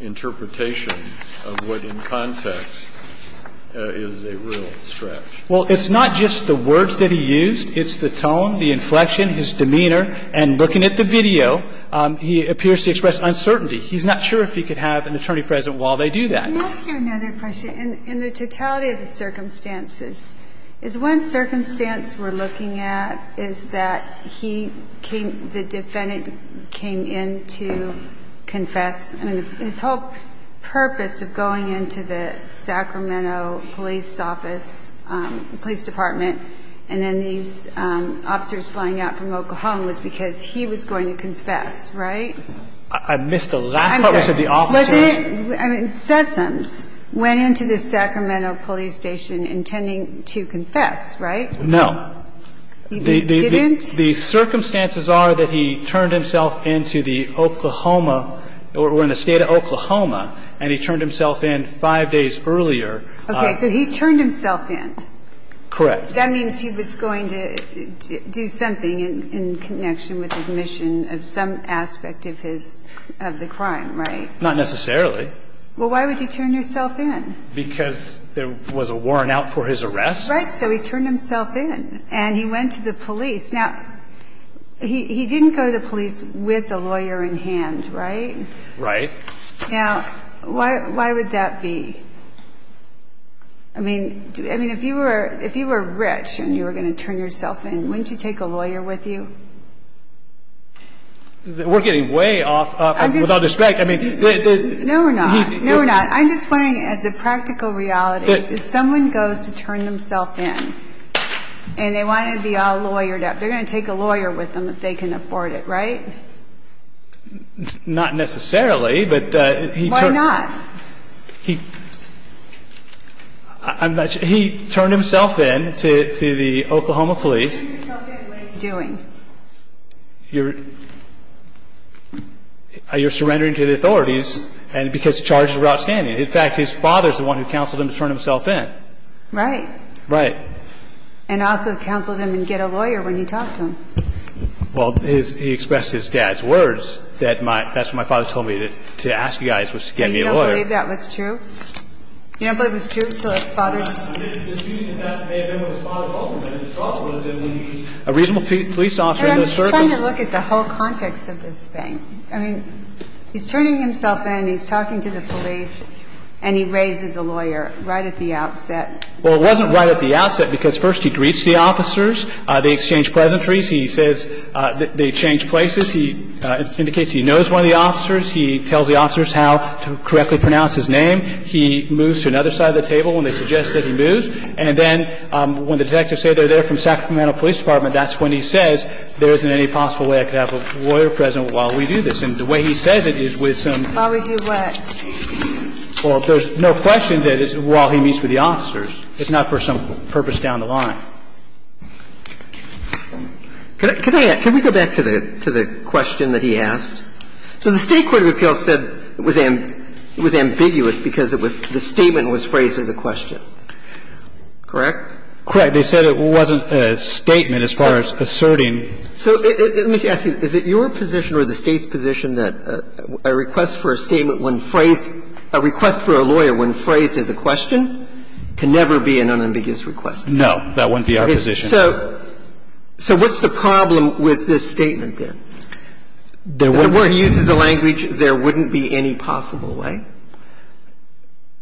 interpretation of what in context is a real stretch. Well, it's not just the words that he used. It's the tone, the inflection, his demeanor. And looking at the video, he appears to express uncertainty. He's not sure if he could have an attorney present while they do that. Let me ask you another question. In the totality of the circumstances, is one circumstance we're looking at is that he came – the defendant came in to confess. I mean, his whole purpose of going into the Sacramento police office, police department, and then these officers flying out from Oklahoma was because he was going to confess, right? I missed the last part where you said the officer – Wasn't it – I mean, Sessoms went into the Sacramento police station intending to confess, right? No. He didn't? The circumstances are that he turned himself into the Oklahoma – or in the state of Oklahoma, and he turned himself in five days earlier. Okay. So he turned himself in. Correct. That means he was going to do something in connection with admission of some aspect of his – of the crime, right? Not necessarily. Well, why would he turn himself in? Because there was a warrant out for his arrest. Right. So he turned himself in. And he went to the police. Now, he didn't go to the police with a lawyer in hand, right? Right. Now, why would that be? I mean, if you were rich and you were going to turn yourself in, wouldn't you take a lawyer with you? We're getting way off – without respect. I mean – No, we're not. No, we're not. I'm just wondering, as a practical reality, if someone goes to turn themself in and they want to be all lawyered up, they're going to take a lawyer with them if they can afford it, right? Not necessarily, but he – Why not? He – I'm not – he turned himself in to the Oklahoma police. He turned himself in, what is he doing? You're – you're surrendering to the authorities, and – because he's charged with route scanning. In fact, his father is the one who counseled him to turn himself in. Right. Right. And also counseled him to get a lawyer when he talked to him. Well, his – he expressed his dad's words that my – that's what my father told me, that – to ask you guys was to get me a lawyer. You don't believe that was true? You don't believe it was true? So his father – No, I mean, the excuse that that may have been what his father told him and his father was that we need a reasonable police officer in the circle – I'm just trying to look at the whole context of this thing. I mean, he's turning himself in, he's talking to the police, and he raises a lawyer right at the outset. Well, it wasn't right at the outset because, first, he greets the officers. They exchange pleasantries. He says they change places. He indicates he knows one of the officers. He tells the officers how to correctly pronounce his name. He moves to another side of the table when they suggest that he moves. And then when the detectives say they're there from Sacramento Police Department, that's when he says there isn't any possible way I could have a lawyer present while we do this. And the way he says it is with some – While we do what? Well, there's no question that it's while he meets with the officers. It's not for some purpose down the line. Can I – can we go back to the question that he asked? So the State court of appeals said it was ambiguous because the statement was phrased as a question. Correct? Correct. They said it wasn't a statement as far as asserting. So let me ask you, is it your position or the State's position that a request for a statement when phrased – a request for a lawyer when phrased as a question can never be an unambiguous request? No. That wouldn't be our position. Okay. So what's the problem with this statement, then? There wouldn't – Where he uses the language, there wouldn't be any possible way?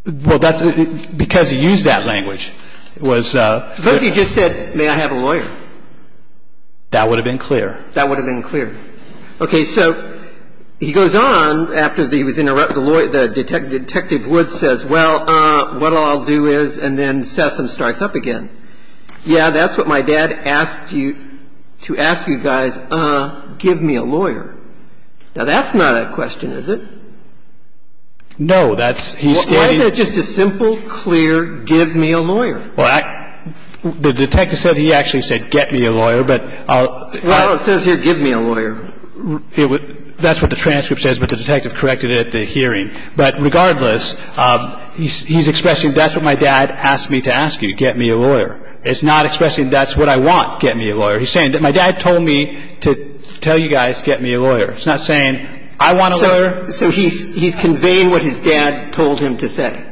Well, that's – because he used that language, it was – Suppose he just said, may I have a lawyer? That would have been clear. That would have been clear. Okay. So he goes on after he was interrupted. The lawyer – Detective Woods says, well, what I'll do is – and then Sessom starts up again. Yeah, that's what my dad asked you – to ask you guys, give me a lawyer. Now, that's not a question, is it? No. That's – he's standing – Why is it just a simple, clear, give me a lawyer? Well, I – the detective said he actually said, get me a lawyer, but I'll – Well, it says here, give me a lawyer. That's what the transcript says, but the detective corrected it at the hearing. But regardless, he's expressing, that's what my dad asked me to ask you, get me a lawyer. It's not expressing, that's what I want, get me a lawyer. He's saying that my dad told me to tell you guys, get me a lawyer. It's not saying, I want a lawyer. So he's conveying what his dad told him to say,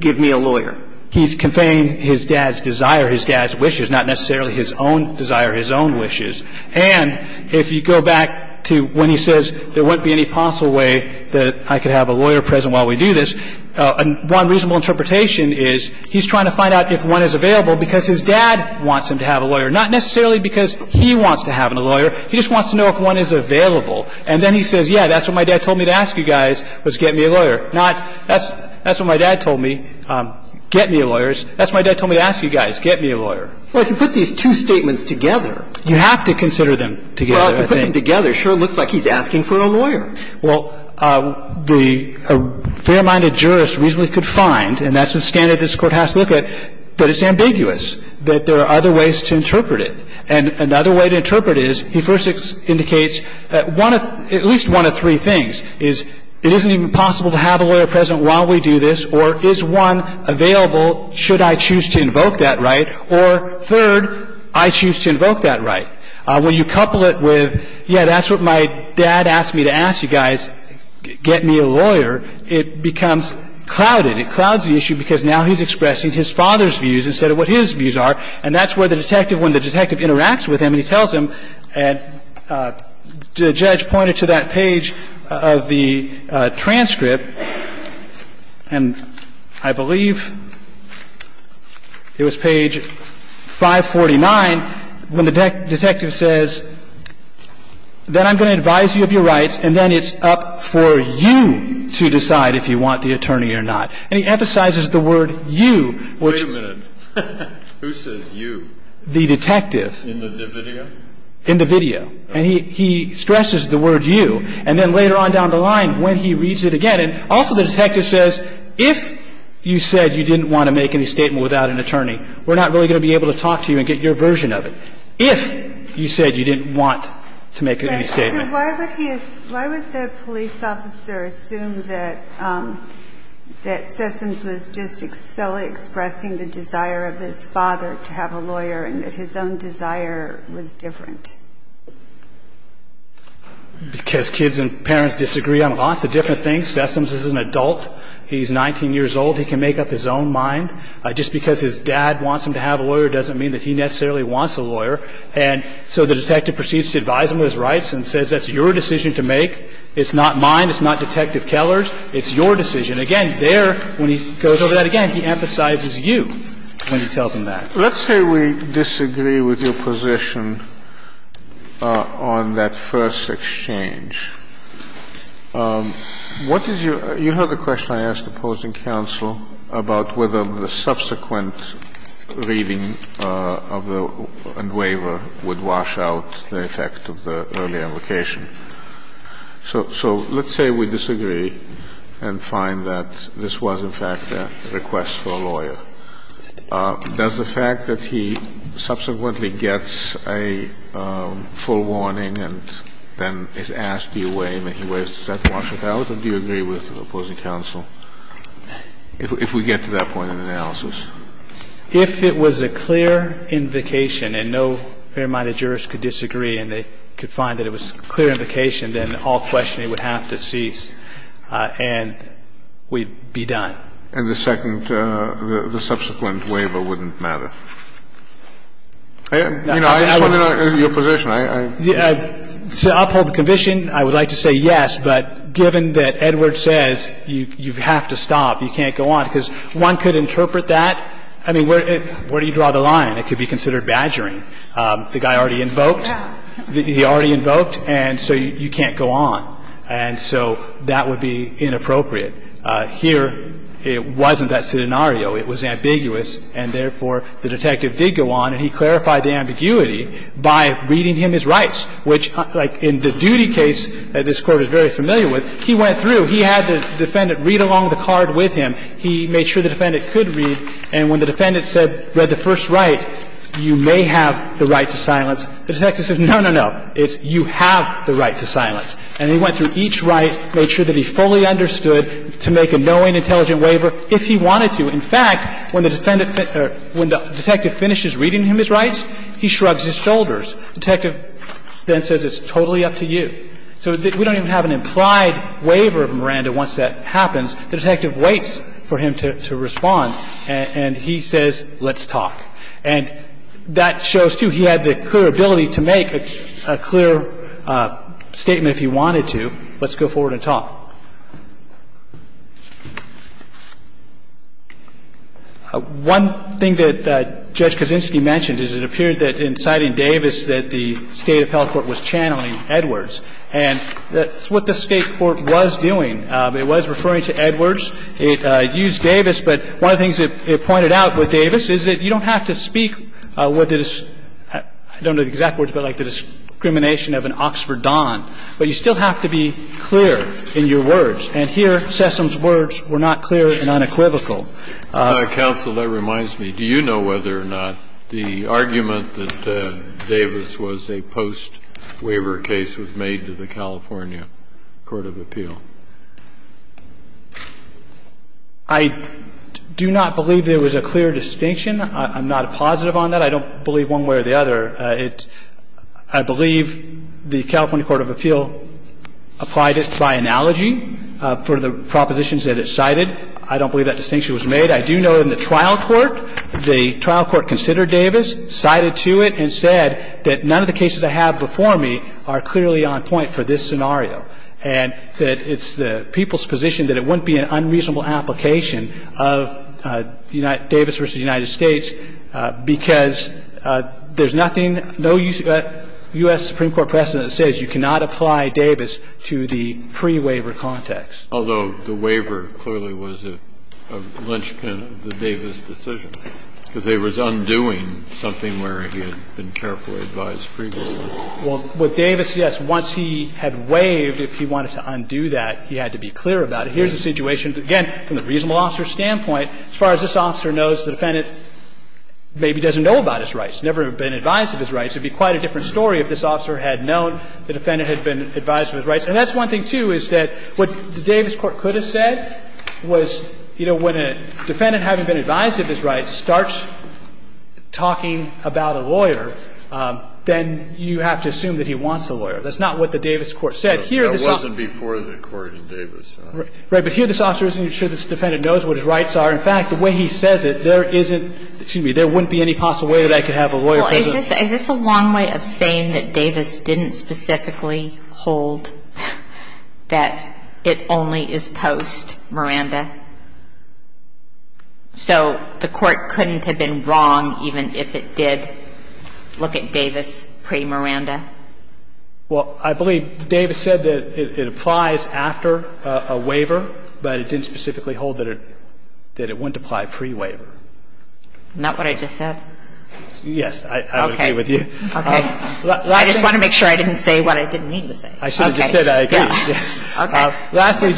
give me a lawyer. He's conveying his dad's desire, his dad's wishes, not necessarily his own desire, his own wishes. And if you go back to when he says, there wouldn't be any possible way that I could have a lawyer present while we do this, one reasonable interpretation is, he's trying to find out if one is available, because his dad wants him to have a lawyer. Not necessarily because he wants to have a lawyer. He just wants to know if one is available. And then he says, yeah, that's what my dad told me to ask you guys, was get me a lawyer. Not, that's what my dad told me, get me a lawyer. That's what my dad told me to ask you guys, get me a lawyer. Well, if you put these two statements together. You have to consider them together, I think. Well, if you put them together, it sure looks like he's asking for a lawyer. Well, the fair-minded jurist reasonably could find, and that's the standard this Court has to look at, that it's ambiguous, that there are other ways to interpret it. And another way to interpret it is, he first indicates at least one of three things, is it isn't even possible to have a lawyer present while we do this, or is one available, should I choose to invoke that right, or third, I choose to invoke that right. When you couple it with, yeah, that's what my dad asked me to ask you guys, get me a lawyer, it becomes clouded. It clouds the issue because now he's expressing his father's views instead of what his views are. And that's where the detective, when the detective interacts with him, and he tells him, and the judge pointed to that page of the transcript, and I don't know if you know this, but I believe it was page 549, when the detective says, then I'm going to advise you of your rights, and then it's up for you to decide if you want the attorney or not. And he emphasizes the word, you, which... Wait a minute. Who says, you? The detective. In the video? In the video. And he stresses the word, you. And then later on down the line, when he reads it again, and also the detective says, if you said you didn't want to make any statement without an attorney, we're not really going to be able to talk to you and get your version of it. If you said you didn't want to make any statement. Right. So why would he, why would the police officer assume that Sessoms was just expressing the desire of his father to have a lawyer and that his own desire was different? Because kids and parents disagree on lots of different things. Sessoms is an adult. He's 19 years old. He can make up his own mind. Just because his dad wants him to have a lawyer doesn't mean that he necessarily wants a lawyer. And so the detective proceeds to advise him of his rights and says, that's your decision to make. It's not mine. It's not Detective Keller's. It's your decision. Again, there, when he goes over that again, he emphasizes you when he tells him that. Let's say we disagree with your position on that first exchange. What is your, you have a question I asked opposing counsel about whether the subsequent reading of the waiver would wash out the effect of the earlier location. So, so let's say we disagree and find that this was, in fact, a request for a lawyer. Does the fact that he subsequently gets a full warning and then is asked to give a full warning, do you agree with the opposing counsel? If we get to that point in the analysis. If it was a clear invocation and no fair-minded jurist could disagree and they could find that it was a clear invocation, then all questioning would have to cease and we'd be done. And the second, the subsequent waiver wouldn't matter. You know, I just want to know your position. To uphold the condition, I would like to say yes, but given that Edward says you have to stop, you can't go on, because one could interpret that. I mean, where do you draw the line? It could be considered badgering. The guy already invoked. He already invoked, and so you can't go on. And so that would be inappropriate. Here, it wasn't that scenario. I think the lawyer's argument is that the defendant was not able to read by reading him his rights, which, like in the duty case that this Court is very familiar with, he went through. He had the defendant read along the card with him. He made sure the defendant could read. And when the defendant said, read the first right, you may have the right to silence, the detective says no, no, no. It's you have the right to silence. And he went through each right, made sure that he fully understood to make a knowing and intelligent waiver if he wanted to. In fact, when the defendant or when the detective finishes reading him his rights, he shrugs his shoulders. The detective then says it's totally up to you. So we don't even have an implied waiver of Miranda once that happens. The detective waits for him to respond, and he says let's talk. And that shows, too, he had the clear ability to make a clear statement if he wanted to, let's go forward and talk. One thing that Judge Kaczynski mentioned is it appeared that in citing Davis that the State Appellate Court was channeling Edwards. And that's what the State Court was doing. It was referring to Edwards. It used Davis. But one of the things it pointed out with Davis is that you don't have to speak what the – I don't know the exact words, but like the discrimination of an Oxford Don. But you still have to be clear in your words. And here, Sessom's words were not clear and unequivocal. Kennedy. Counsel, that reminds me. Do you know whether or not the argument that Davis was a post-waiver case was made to the California court of appeal? I do not believe there was a clear distinction. I'm not positive on that. I don't believe one way or the other. I believe the California court of appeal applied it by analogy for the propositions that it cited. I don't believe that distinction was made. I do know in the trial court, the trial court considered Davis, cited to it and said that none of the cases I have before me are clearly on point for this scenario. And that it's the people's position that it wouldn't be an unreasonable application of Davis v. United States because there's nothing, no U.S. Supreme Court precedent that says you cannot apply Davis to the pre-waiver context. Although the waiver clearly was a lynchpin of the Davis decision, because they were undoing something where he had been carefully advised previously. Well, what Davis, yes, once he had waived, if he wanted to undo that, he had to be clear about it. And here's the situation. Again, from the reasonable officer's standpoint, as far as this officer knows, the defendant maybe doesn't know about his rights, never been advised of his rights. It would be quite a different story if this officer had known the defendant had been advised of his rights. And that's one thing, too, is that what the Davis court could have said was, you know, when a defendant, having been advised of his rights, starts talking about a lawyer, then you have to assume that he wants a lawyer. That's not what the Davis court said. But here this officer isn't sure this defendant knows what his rights are. In fact, the way he says it, there isn't, excuse me, there wouldn't be any possible way that I could have a lawyer present. Is this a long way of saying that Davis didn't specifically hold that it only is post Miranda? So the court couldn't have been wrong even if it did look at Davis pre-Miranda? Well, I believe Davis said that it applies after a waiver, but it didn't specifically hold that it wouldn't apply pre-waiver. Not what I just said? Yes. Okay. I would agree with you. Okay. I just want to make sure I didn't say what I didn't mean to say. I should have just said I agree. Okay. Yes. Okay. Lastly.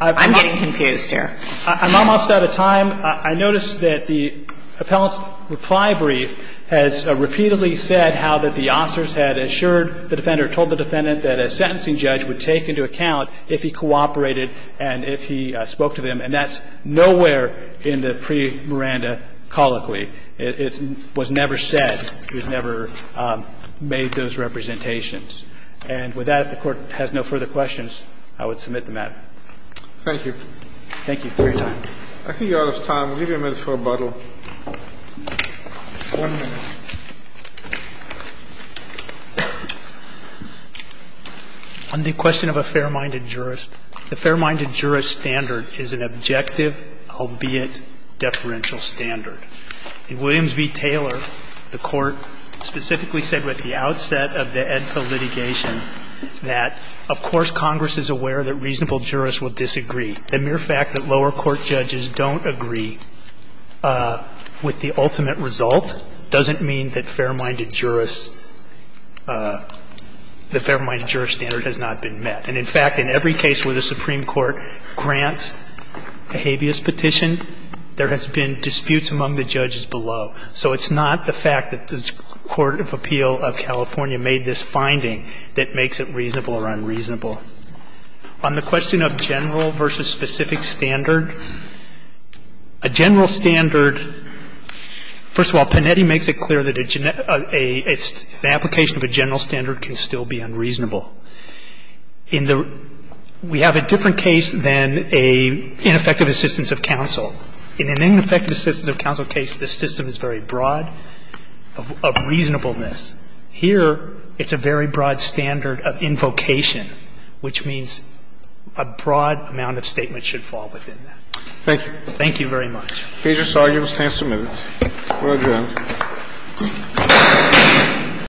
I'm getting confused here. I'm almost out of time. I noticed that the appellant's reply brief has repeatedly said how that the officers had assured the defender, told the defendant that a sentencing judge would take into account if he cooperated and if he spoke to them. And that's nowhere in the pre-Miranda colloquy. It was never said. It was never made those representations. And with that, if the Court has no further questions, I would submit the matter. Thank you. Thank you for your time. I think you're out of time. We'll give you a minute for rebuttal. One minute. On the question of a fair-minded jurist, the fair-minded jurist standard is an objective, albeit deferential, standard. In Williams v. Taylor, the Court specifically said at the outset of the AEDPA litigation that, of course, Congress is aware that reasonable jurists will disagree. The mere fact that lower court judges don't agree with the ultimate result doesn't mean that fair-minded jurists, the fair-minded jurist standard has not been met. And, in fact, in every case where the Supreme Court grants a habeas petition, there has been disputes among the judges below. So it's not the fact that the Court of Appeal of California made this finding that makes it reasonable or unreasonable. On the question of general versus specific standard, a general standard, first of all, Panetti makes it clear that an application of a general standard can still be unreasonable. We have a different case than an ineffective assistance of counsel. In an ineffective assistance of counsel case, the system is very broad of reasonableness. Here, it's a very broad standard of invocation. Which means a broad amount of statements should fall within that. Thank you. Thank you very much. The case is argued. The time is submitted. We're adjourned.